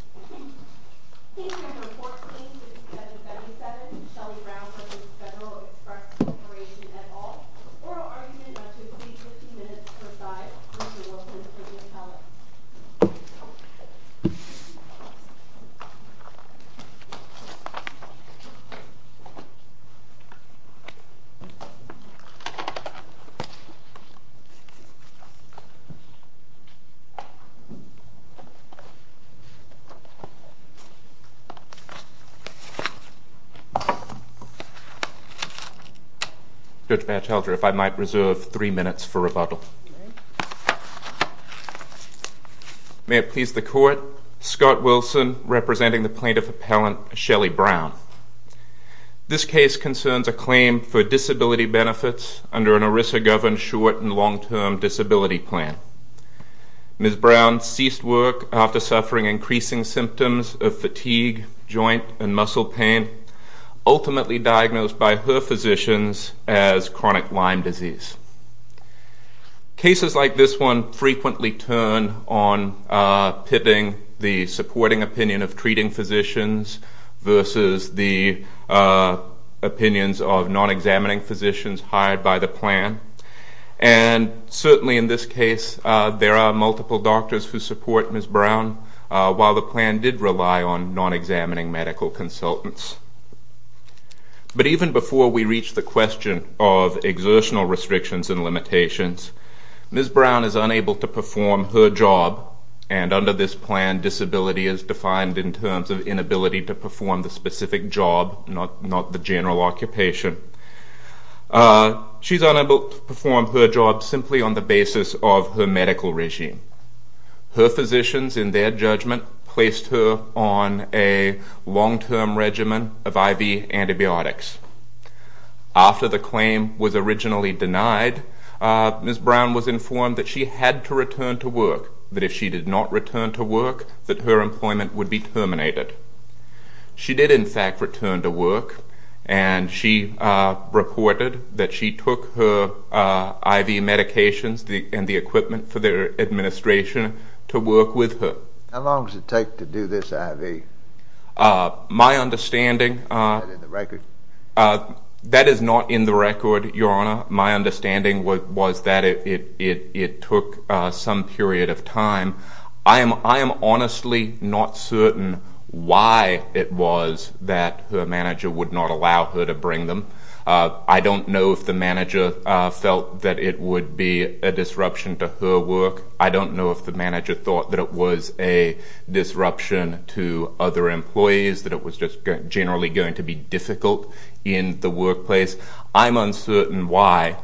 Corporation, et al., oral argument on Tuesday, 15 minutes per side, with Mr. Wilkins as the judge. Judge Batchelder, if I might reserve three minutes for rebuttal. May it please the court, Scott Wilson, representing the plaintiff appellant, Shelley Brown. This case concerns a claim for disability benefits under an ERISA-governed short and long-term disability plan. Ms. Brown ceased work after suffering increasing symptoms of fatigue, joint and muscle pain, ultimately diagnosed by her physicians as chronic Lyme disease. Cases like this one frequently turn on pitting the supporting opinion of treating physicians versus the opinions of non-examining physicians hired by the plan. And certainly in this case, there are multiple doctors who support Ms. Brown, while the plan did rely on non-examining medical consultants. But even before we reach the question of exertional restrictions and limitations, Ms. Brown is unable to perform her job, and under this plan, disability is defined in terms of inability to perform the specific job, not the general occupation. She's unable to perform her job simply on the basis of her medical regime. Her physicians, in their judgment, placed her on a long-term regimen of IV antibiotics. After the claim was originally denied, Ms. Brown was informed that she had to return to work, that if she did not return to work, that her employment would be terminated. She did, in fact, return to work, and she reported that she took her IV medications and the equipment for their administration to work with her. How long does it take to do this IV? My understanding... Is that in the record? That is not in the record, Your Honor. My understanding was that it took some period of time. I am honestly not certain why it was that her manager would not allow her to bring them. I don't know if the manager felt that it would be a disruption to her work. I don't know if the manager thought that it was a disruption to other employees, that it was just generally going to be difficult in the workplace. I'm uncertain why.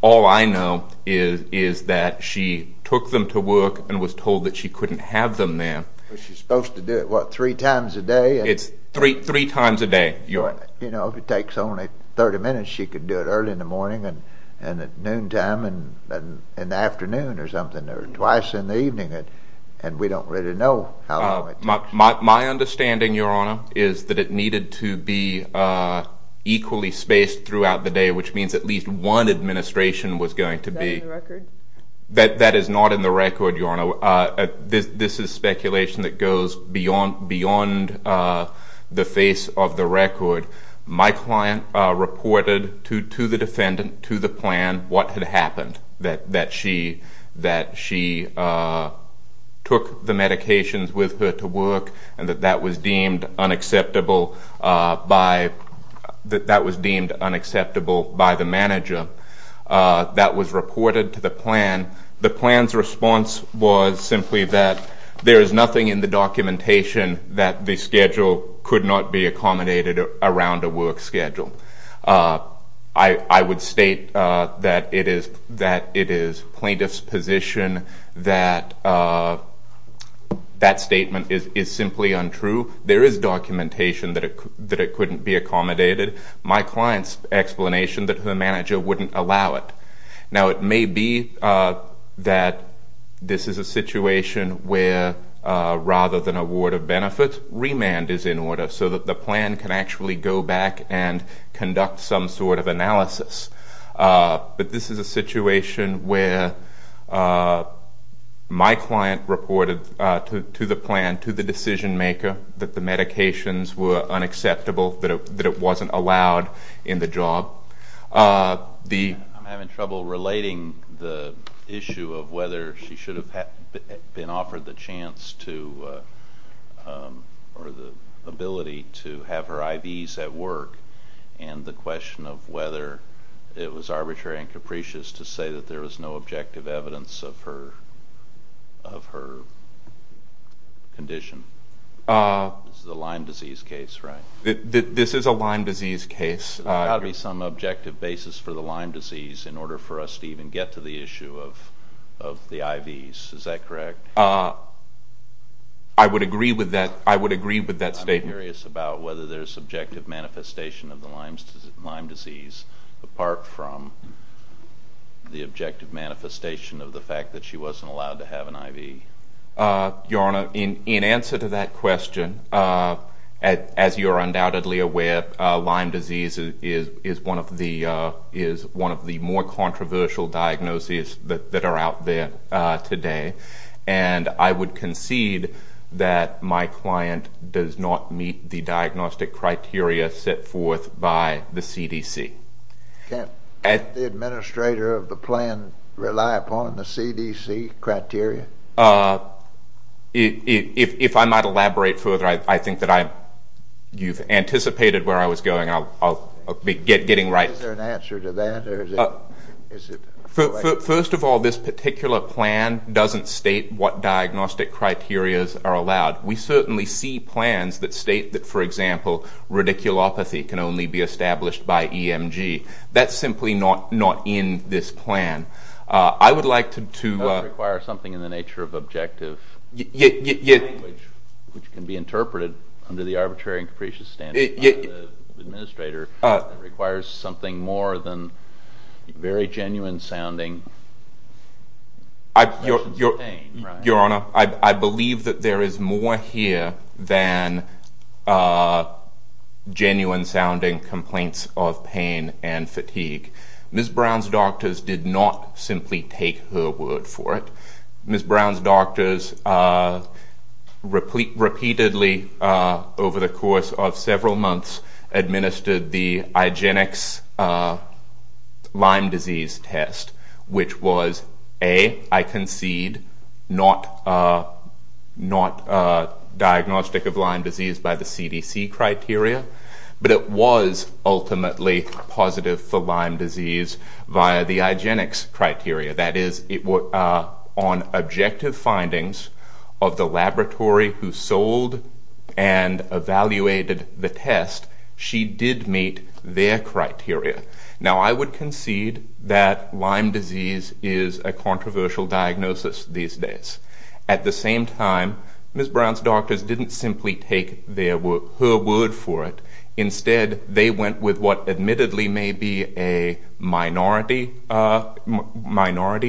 All I know is that she took them to work and was told that she couldn't have them there. She's supposed to do it, what, three times a day? It's three times a day, Your Honor. You know, if it takes only 30 minutes, she could do it early in the morning and at noontime and in the afternoon or something, or twice in the evening, and we don't really know how long it takes. My understanding, Your Honor, is that it needed to be equally spaced throughout the day, which means at least one administration was going to be. Is that in the record? That is not in the record, Your Honor. This is speculation that goes beyond the face of the record. My client reported to the defendant, to the plan, what had happened, that she took the medications with her to work and that that was deemed unacceptable by the manager. That was reported to the plan. The plan's response was simply that there is nothing in the documentation that the schedule could not be accommodated around a work schedule. I would state that it is plaintiff's position that that statement is simply untrue. There is documentation that it couldn't be accommodated. My client's explanation that the manager wouldn't allow it. Now, it may be that this is a situation where, rather than a ward of benefits, remand is in order so that the plan can actually go back and conduct some sort of analysis. But this is a situation where my client reported to the plan, to the decision maker, that the medications were unacceptable, that it wasn't allowed in the job. I'm having trouble relating the issue of whether she should have been offered the chance to, or the ability to have her IVs at work and the question of whether it was arbitrary and capricious to say that there was no objective evidence of her condition. This is a Lyme disease case, right? This is a Lyme disease case. There's got to be some objective basis for the Lyme disease in order for us to even get to the issue of the IVs. Is that correct? I would agree with that statement. I'm curious about whether there's objective manifestation of the Lyme disease apart from the objective manifestation of the fact that she wasn't allowed to have an IV. Your Honor, in answer to that question, as you are undoubtedly aware, Lyme disease is one of the more controversial diagnoses that are out there today. And I would concede that my client does not meet the diagnostic criteria set forth by the CDC. Can't the administrator of the plan rely upon the CDC criteria? If I might elaborate further, I think that you've anticipated where I was going. I'll be getting right. Is there an answer to that? First of all, this particular plan doesn't state what diagnostic criteria are allowed. We certainly see plans that state that, for example, radiculopathy can only be established by EMG. That's simply not in this plan. That would require something in the nature of objective language, which can be interpreted under the arbitrary and capricious standards of the administrator. It requires something more than very genuine-sounding questions of pain. Your Honor, I believe that there is more here than genuine-sounding complaints of pain and fatigue. Ms. Brown's doctors did not simply take her word for it. Ms. Brown's doctors repeatedly, over the course of several months, administered the IGENIX Lyme disease test, which was, A, I concede, not diagnostic of Lyme disease by the CDC criteria, but it was ultimately positive for Lyme disease via the IGENIX criteria. That is, on objective findings of the laboratory who sold and evaluated the test, she did meet their criteria. Now, I would concede that Lyme disease is a controversial diagnosis these days. At the same time, Ms. Brown's doctors didn't simply take her word for it. Instead, they went with what admittedly may be a minority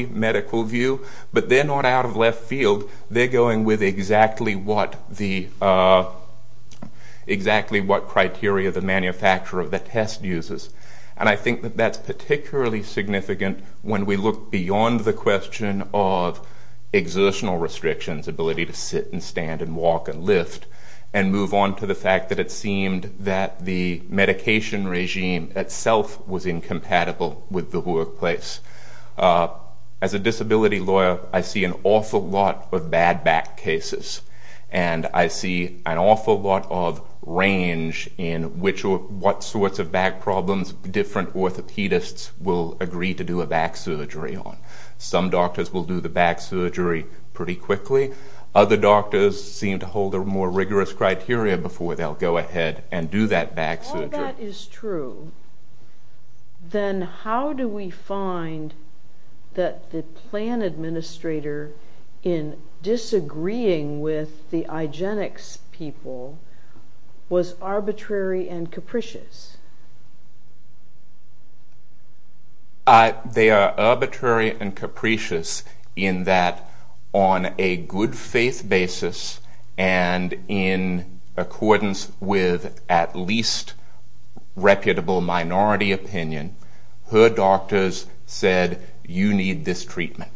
medical view, but they're not out of left field. They're going with exactly what criteria the manufacturer of the test uses. And I think that that's particularly significant when we look beyond the question of exertional restrictions, ability to sit and stand and walk and lift, and move on to the fact that it seemed that the medication regime itself was incompatible with the workplace. As a disability lawyer, I see an awful lot of bad back cases, and I see an awful lot of range in which or what sorts of back problems different orthopedists will agree to do a back surgery on. Some doctors will do the back surgery pretty quickly. Other doctors seem to hold a more rigorous criteria before they'll go ahead and do that back surgery. If all that is true, then how do we find that the plan administrator in disagreeing with the Igenex people was arbitrary and capricious? They are arbitrary and capricious in that on a good faith basis and in accordance with at least reputable minority opinion, her doctors said, you need this treatment.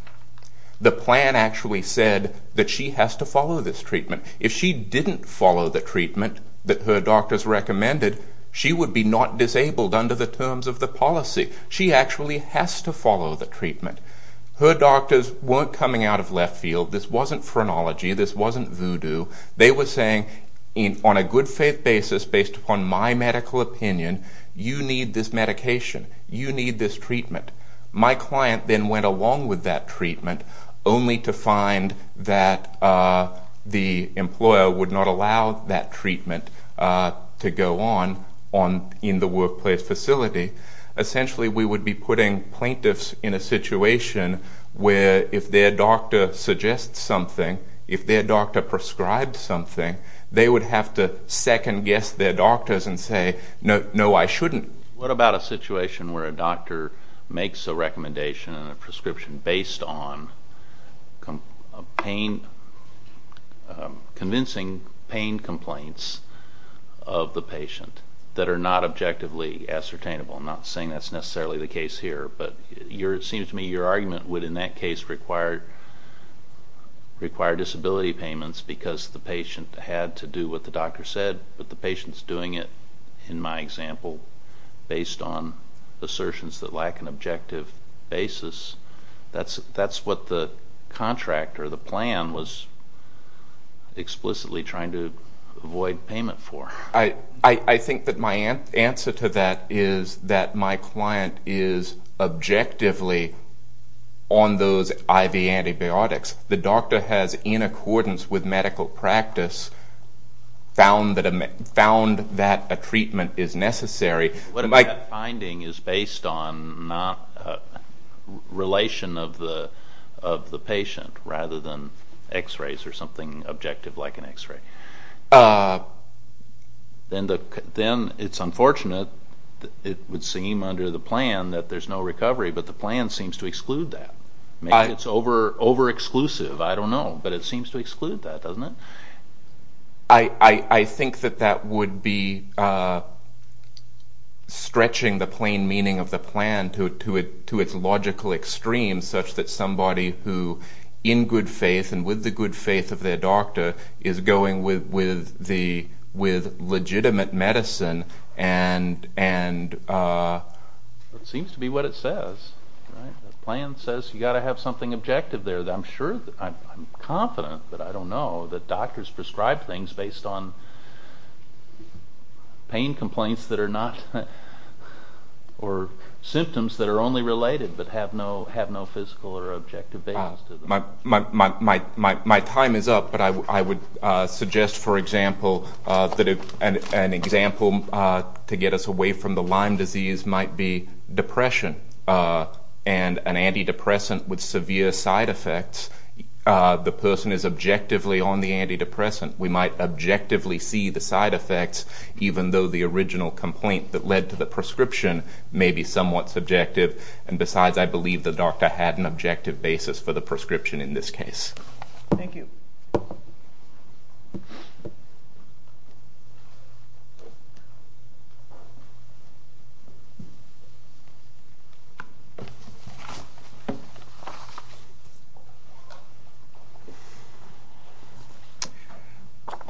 The plan actually said that she has to follow this treatment. If she didn't follow the treatment that her doctors recommended, she would be not disabled under the terms of the policy. She actually has to follow the treatment. Her doctors weren't coming out of left field. This wasn't phrenology. This wasn't voodoo. They were saying on a good faith basis based upon my medical opinion, you need this medication. You need this treatment. My client then went along with that treatment only to find that the employer would not allow that treatment to go on in the workplace facility. Essentially, we would be putting plaintiffs in a situation where if their doctor suggests something, if their doctor prescribes something, they would have to second-guess their doctors and say, no, I shouldn't. What about a situation where a doctor makes a recommendation and a prescription based on convincing pain complaints of the patient that are not objectively ascertainable? I'm not saying that's necessarily the case here, but it seems to me your argument would in that case require disability payments because the patient had to do what the doctor said, but the patient's doing it, in my example, based on assertions that lack an objective basis. That's what the contract or the plan was explicitly trying to avoid payment for. I think that my answer to that is that my client is objectively on those IV antibiotics. The doctor has, in accordance with medical practice, found that a treatment is necessary. But if that finding is based on not a relation of the patient rather than x-rays or something objective like an x-ray, then it's unfortunate it would seem under the plan that there's no recovery, but the plan seems to exclude that. Maybe it's over-exclusive, I don't know, but it seems to exclude that, doesn't it? I think that that would be stretching the plain meaning of the plan to its logical extremes such that somebody who, in good faith and with the good faith of their doctor, is going with legitimate medicine and... It seems to be what it says. The plan says you've got to have something objective there. I'm confident, but I don't know, that doctors prescribe things based on pain complaints or symptoms that are only related but have no physical or objective basis. My time is up, but I would suggest, for example, that an example to get us away from the Lyme disease might be depression. And an antidepressant with severe side effects, the person is objectively on the antidepressant. We might objectively see the side effects, even though the original complaint that led to the prescription may be somewhat subjective. And besides, I believe the doctor had an objective basis for the prescription in this case. Thank you.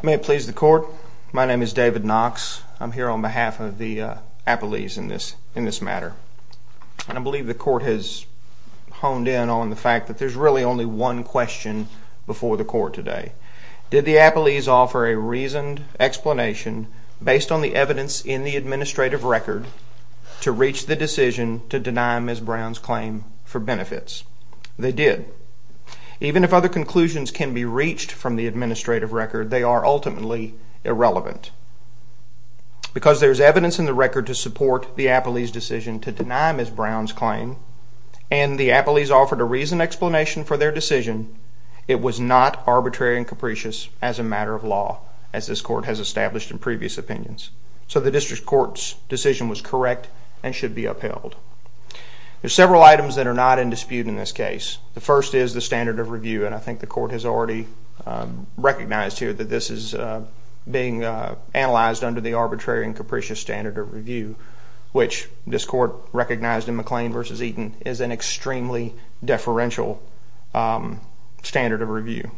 May it please the court. My name is David Knox. I'm here on behalf of the appellees in this matter. And I believe the court has honed in on the fact that there's really only one question before the court today. Did the appellees offer a reasoned explanation based on the evidence in the administrative record to reach the decision to deny the prescription? They did. Even if other conclusions can be reached from the administrative record, they are ultimately irrelevant. Because there's evidence in the record to support the appellees' decision to deny Ms. Brown's claim, and the appellees offered a reasoned explanation for their decision, it was not arbitrary and capricious as a matter of law, as this court has established in previous opinions. So the district court's decision was correct and should be upheld. There are several items that are not in dispute in this case. The first is the standard of review, and I think the court has already recognized here that this is being analyzed under the arbitrary and capricious standard of review, which this court recognized in McLean v. Eaton as an extremely deferential standard of review.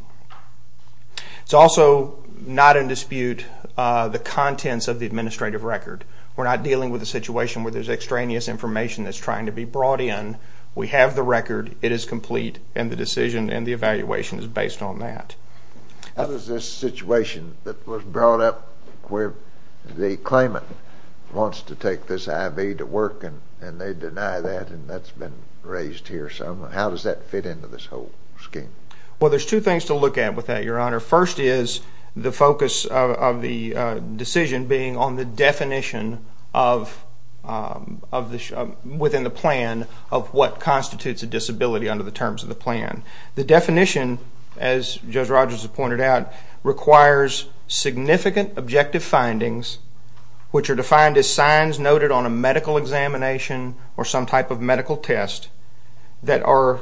It's also not in dispute the contents of the administrative record. We're not dealing with a situation where there's extraneous information that's trying to be brought in. We have the record, it is complete, and the decision and the evaluation is based on that. How does this situation that was brought up where the claimant wants to take this IV to work and they deny that and that's been raised here, how does that fit into this whole scheme? Well, there's two things to look at with that, Your Honor. First is the focus of the decision being on the definition within the plan of what constitutes a disability under the terms of the plan. The definition, as Judge Rogers has pointed out, requires significant objective findings, which are defined as signs noted on a medical examination or some type of medical test that are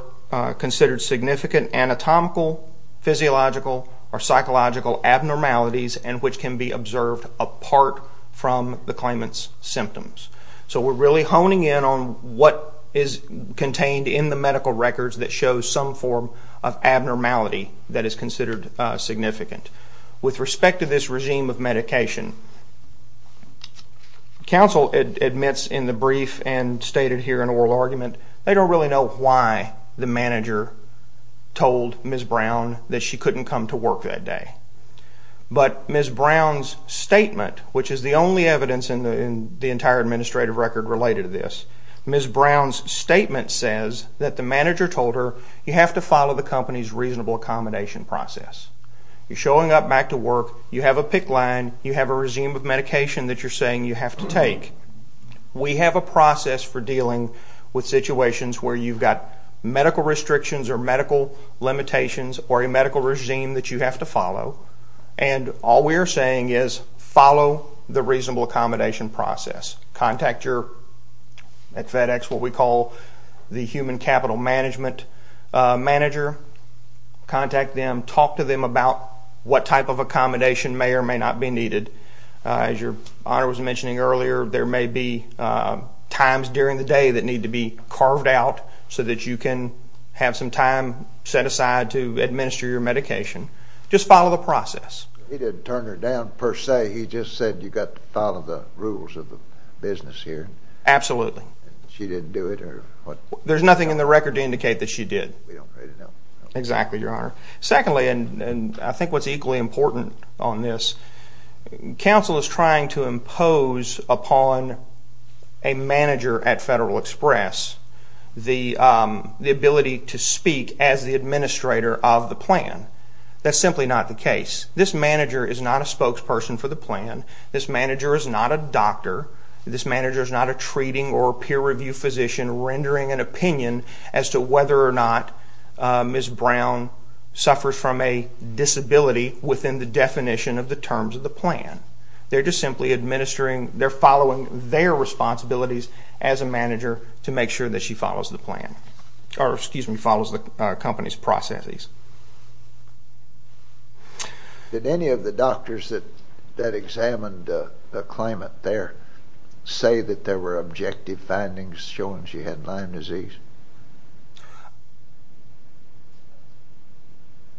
considered significant anatomical, physiological, or psychological abnormalities and which can be observed apart from the claimant's symptoms. So we're really honing in on what is contained in the medical records that shows some form of abnormality that is considered significant. With respect to this regime of medication, counsel admits in the brief and stated here in oral argument they don't really know why the manager told Ms. Brown that she couldn't come to work that day. But Ms. Brown's statement, which is the only evidence in the entire administrative record related to this, Ms. Brown's statement says that the manager told her you have to follow the company's reasonable accommodation process. You're showing up back to work, you have a PICC line, you have a regime of medication that you're saying you have to take. We have a process for dealing with situations where you've got medical restrictions or medical limitations or a medical regime that you have to follow, and all we're saying is follow the reasonable accommodation process. Contact your FedEx, what we call the human capital management manager. Contact them. Talk to them about what type of accommodation may or may not be needed. As Your Honor was mentioning earlier, there may be times during the day that need to be carved out so that you can have some time set aside to administer your medication. Just follow the process. He didn't turn her down per se. He just said you've got to follow the rules of the business here. Absolutely. She didn't do it or what? There's nothing in the record to indicate that she did. We don't really know. Exactly, Your Honor. Secondly, and I think what's equally important on this, counsel is trying to impose upon a manager at Federal Express the ability to speak as the administrator of the plan. That's simply not the case. This manager is not a spokesperson for the plan. This manager is not a doctor. This manager is not a treating or peer review physician rendering an opinion as to whether or not Ms. Brown suffers from a disability within the definition of the terms of the plan. They're just simply administering. They're following their responsibilities as a manager to make sure that she follows the plan, or, excuse me, follows the company's processes. Did any of the doctors that examined the claimant there say that there were objective findings showing she had Lyme disease?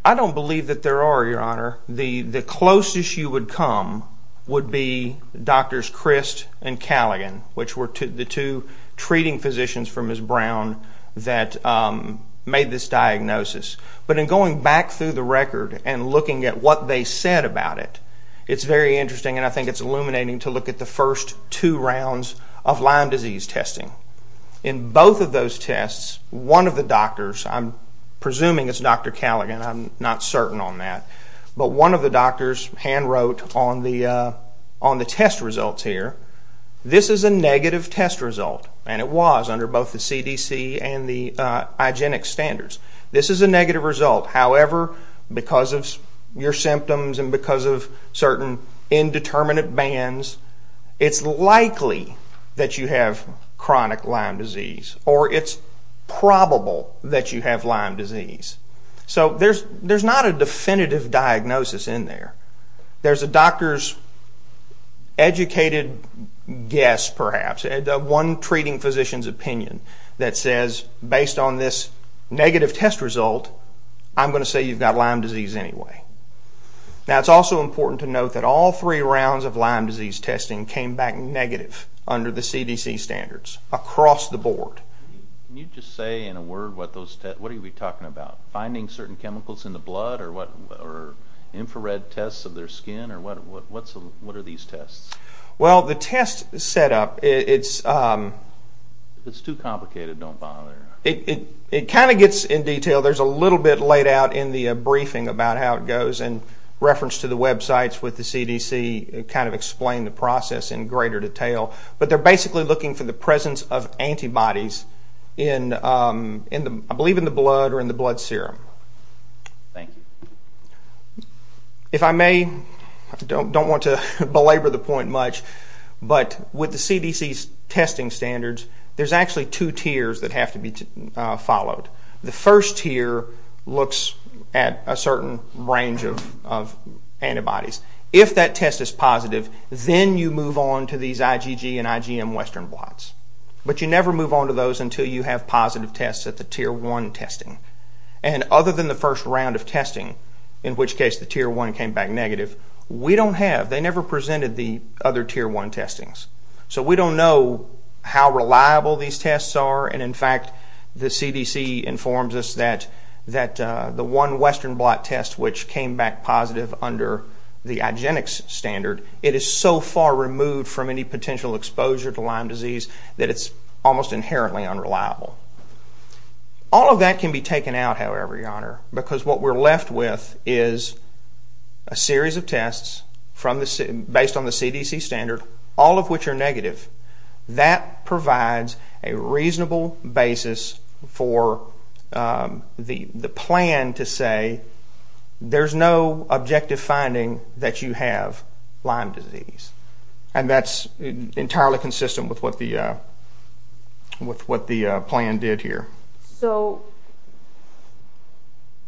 I don't believe that there are, Your Honor. The closest you would come would be Drs. Christ and Callaghan, which were the two treating physicians for Ms. Brown that made this diagnosis. But in going back through the record and looking at what they said about it, it's very interesting, and I think it's illuminating, to look at the first two rounds of Lyme disease testing. In both of those tests, one of the doctors, I'm presuming it's Dr. Callaghan, I'm not certain on that, but one of the doctors hand wrote on the test results here, this is a negative test result, and it was under both the CDC and the IGENIX standards. This is a negative result. However, because of your symptoms and because of certain indeterminate bands, it's likely that you have chronic Lyme disease, or it's probable that you have Lyme disease. So there's not a definitive diagnosis in there. There's a doctor's educated guess, perhaps, one treating physician's opinion that says, based on this negative test result, I'm going to say you've got Lyme disease anyway. Now, it's also important to note that all three rounds of Lyme disease testing came back negative under the CDC standards across the board. Can you just say in a word what you'd be talking about, finding certain chemicals in the blood or infrared tests of their skin, or what are these tests? Well, the test setup, it's too complicated. Don't bother. It kind of gets in detail. There's a little bit laid out in the briefing about how it goes in reference to the websites with the CDC, kind of explain the process in greater detail. But they're basically looking for the presence of antibodies in, I believe, in the blood or in the blood serum. Thank you. If I may, I don't want to belabor the point much, but with the CDC's testing standards, there's actually two tiers that have to be followed. The first tier looks at a certain range of antibodies. If that test is positive, then you move on to these IgG and IgM western blots. But you never move on to those until you have positive tests at the Tier 1 testing. And other than the first round of testing, in which case the Tier 1 came back negative, we don't have, they never presented the other Tier 1 testings. So we don't know how reliable these tests are. And, in fact, the CDC informs us that the one western blot test, which came back positive under the IgG standard, it is so far removed from any potential exposure to Lyme disease that it's almost inherently unreliable. All of that can be taken out, however, Your Honor, because what we're left with is a series of tests based on the CDC standard, all of which are negative. That provides a reasonable basis for the plan to say, there's no objective finding that you have Lyme disease. And that's entirely consistent with what the plan did here. So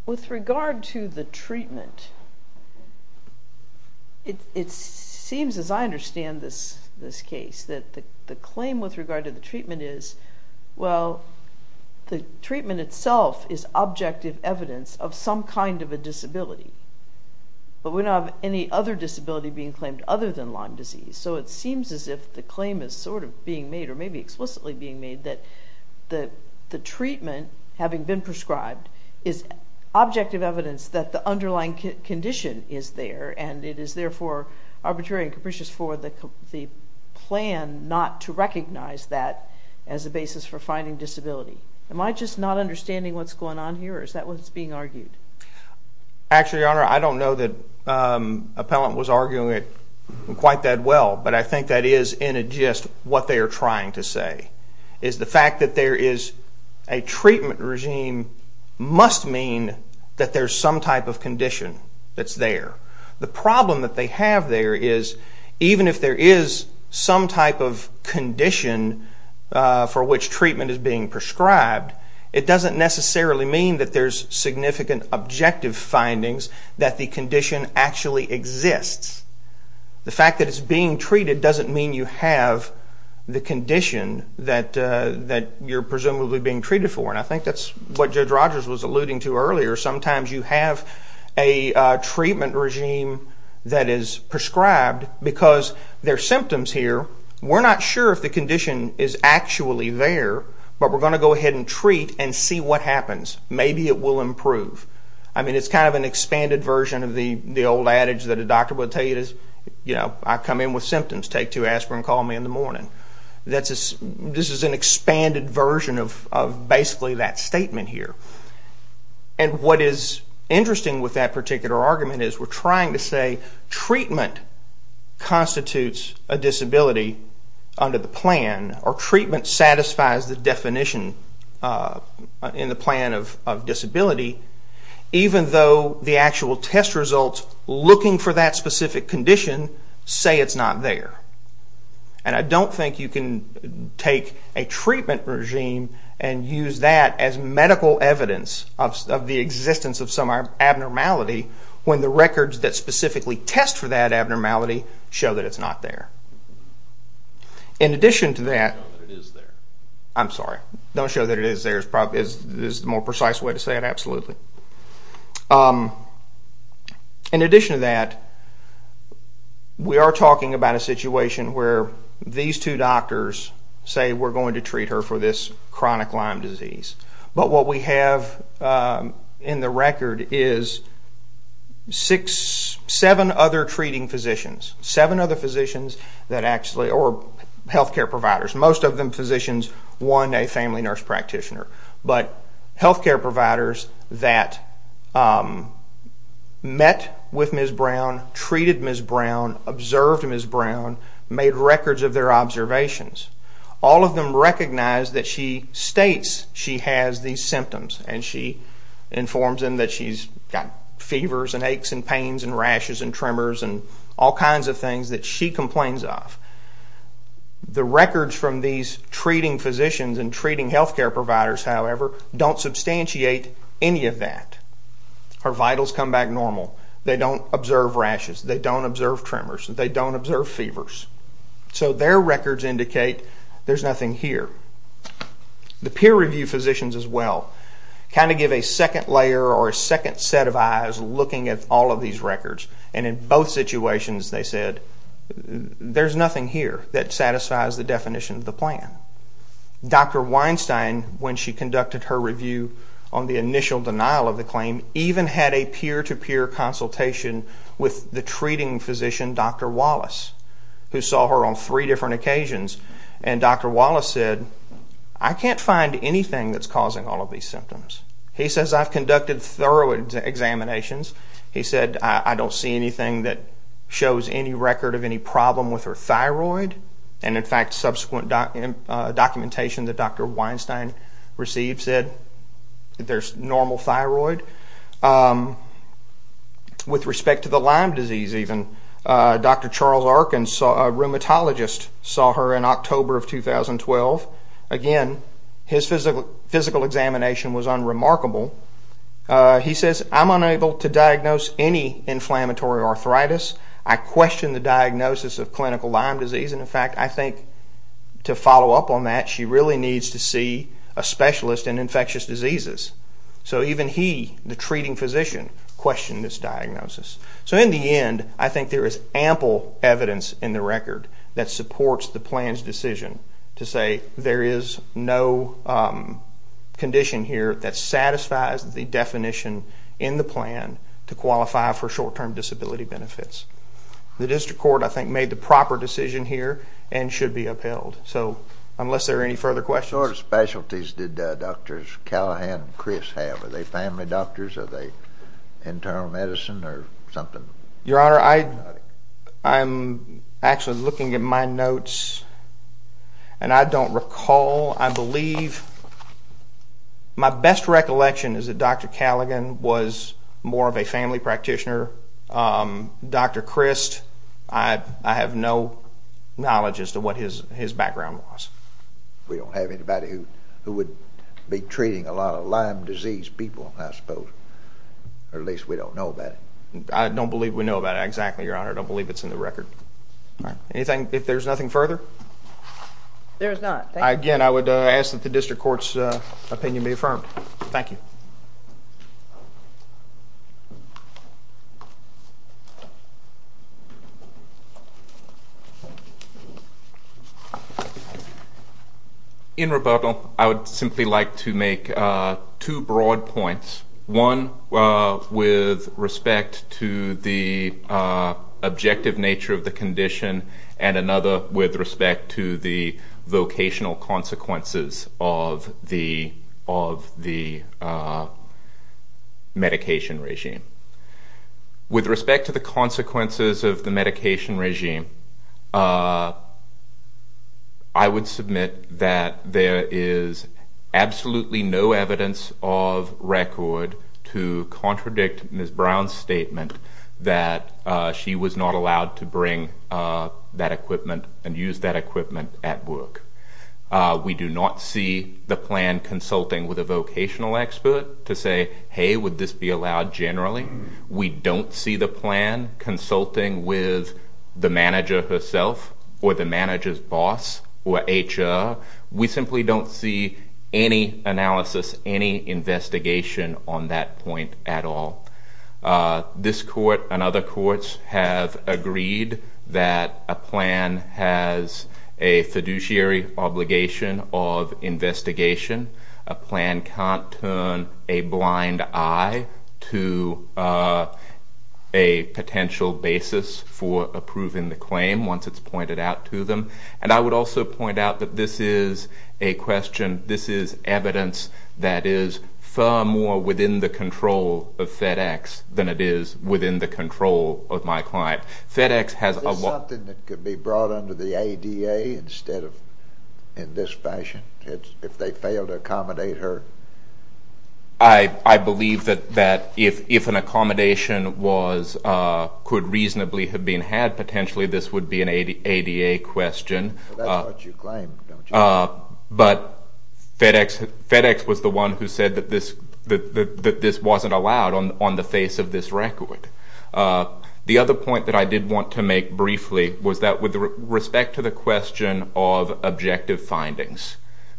with regard to the treatment, it seems, as I understand this case, that the claim with regard to the treatment is, well, the treatment itself is objective evidence of some kind of a disability. But we don't have any other disability being claimed other than Lyme disease. So it seems as if the claim is sort of being made, or maybe explicitly being made, that the treatment, having been prescribed, is objective evidence that the underlying condition is there, and it is therefore arbitrary and capricious for the plan not to recognize that as a basis for finding disability. Am I just not understanding what's going on here, or is that what's being argued? Actually, Your Honor, I don't know that Appellant was arguing it quite that well, but I think that is in a gist what they are trying to say, is the fact that there is a treatment regime must mean that there's some type of condition that's there. The problem that they have there is, even if there is some type of condition for which treatment is being prescribed, it doesn't necessarily mean that there's significant objective findings that the condition actually exists. The fact that it's being treated doesn't mean you have the condition that you're presumably being treated for, and I think that's what Judge Rogers was alluding to earlier. Sometimes you have a treatment regime that is prescribed because there are symptoms here. We're not sure if the condition is actually there, but we're going to go ahead and treat and see what happens. Maybe it will improve. It's kind of an expanded version of the old adage that a doctor would tell you, I come in with symptoms, take two aspirin, call me in the morning. This is an expanded version of basically that statement here. What is interesting with that particular argument is we're trying to say treatment constitutes a disability under the plan, or treatment satisfies the definition in the plan of disability, even though the actual test results looking for that specific condition say it's not there. And I don't think you can take a treatment regime and use that as medical evidence of the existence of some abnormality when the records that specifically test for that abnormality show that it's not there. In addition to that... Don't show that it is there. I'm sorry. Don't show that it is there is the more precise way to say it, absolutely. In addition to that, we are talking about a situation where these two doctors say we're going to treat her for this chronic Lyme disease. But what we have in the record is seven other treating physicians, seven other physicians or health care providers. Most of them physicians, one a family nurse practitioner. But health care providers that met with Ms. Brown, treated Ms. Brown, observed Ms. Brown, made records of their observations. All of them recognized that she states she has these symptoms and she informs them that she's got fevers and aches and pains and rashes and tremors and all kinds of things that she complains of. The records from these treating physicians and treating health care providers, however, don't substantiate any of that. Her vitals come back normal. They don't observe rashes. They don't observe tremors. They don't observe fevers. So their records indicate there's nothing here. The peer review physicians as well kind of give a second layer or a second set of eyes looking at all of these records. And in both situations, they said, there's nothing here that satisfies the definition of the plan. Dr. Weinstein, when she conducted her review on the initial denial of the claim, even had a peer-to-peer consultation with the treating physician, Dr. Wallace, who saw her on three different occasions. And Dr. Wallace said, I can't find anything that's causing all of these symptoms. He says, I've conducted thorough examinations. He said, I don't see anything that shows any record of any problem with her thyroid. And, in fact, subsequent documentation that Dr. Weinstein received said there's normal thyroid. With respect to the Lyme disease, even, Dr. Charles Arkin, a rheumatologist, saw her in October of 2012. Again, his physical examination was unremarkable. He says, I'm unable to diagnose any inflammatory arthritis. I question the diagnosis of clinical Lyme disease. And, in fact, I think to follow up on that, she really needs to see a specialist in infectious diseases. So even he, the treating physician, questioned this diagnosis. So in the end, I think there is ample evidence in the record that supports the plan's decision to say there is no condition here that satisfies the definition in the plan to qualify for short-term disability benefits. The district court, I think, made the proper decision here and should be upheld. So unless there are any further questions. What sort of specialties did Drs. Callahan and Chris have? Are they family doctors? Are they internal medicine or something? Your Honor, I'm actually looking at my notes, and I don't recall. I believe my best recollection is that Dr. Callahan was more of a family practitioner. Dr. Christ, I have no knowledge as to what his background was. We don't have anybody who would be treating a lot of Lyme disease people, I suppose. Or at least we don't know about it. I don't believe we know about it exactly, Your Honor. I don't believe it's in the record. Anything, if there's nothing further? There is not. Again, I would ask that the district court's opinion be affirmed. Thank you. In rebuttal, I would simply like to make two broad points. One with respect to the objective nature of the condition, and another with respect to the vocational consequences of the medication regime. With respect to the consequences of the medication regime, I would submit that there is absolutely no evidence of record to contradict Ms. Brown's statement that she was not allowed to bring that equipment and use that equipment at work. We do not see the plan consulting with a vocational expert to say, hey, would this be allowed generally? We don't see the plan consulting with the manager herself or the manager's boss or HR. We simply don't see any analysis, any investigation on that point at all. This court and other courts have agreed that a plan has a fiduciary obligation of investigation. A plan can't turn a blind eye to a potential basis for approving the claim once it's pointed out to them. And I would also point out that this is a question, this is evidence that is far more within the control of FedEx than it is within the control of my client. Is this something that could be brought under the ADA instead of in this fashion, if they fail to accommodate her? I believe that if an accommodation could reasonably have been had, potentially this would be an ADA question. That's what you claim, don't you? But FedEx was the one who said that this wasn't allowed on the face of this record. The other point that I did want to make briefly was that with respect to the question of objective findings,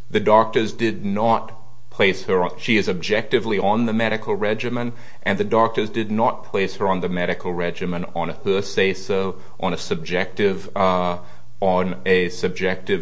the doctors did not place her on, she is objectively on the medical regimen, and the doctors did not place her on the medical regimen on her say-so, on a subjective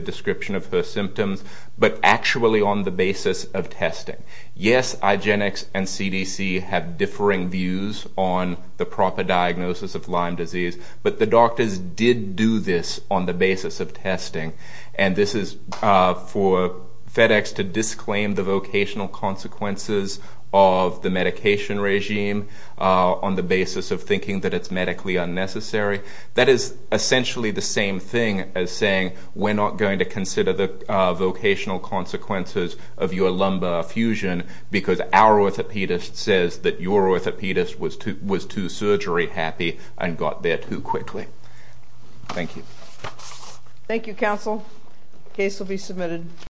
description of her symptoms, but actually on the basis of testing. Yes, Igenex and CDC have differing views on the proper diagnosis of Lyme disease, but the doctors did do this on the basis of testing. And this is for FedEx to disclaim the vocational consequences of the medication regime on the basis of thinking that it's medically unnecessary. That is essentially the same thing as saying, we're not going to consider the vocational consequences of your lumbar fusion because our orthopedist says that your orthopedist was too surgery happy and got there too quickly. Thank you. Thank you, counsel. Case will be submitted.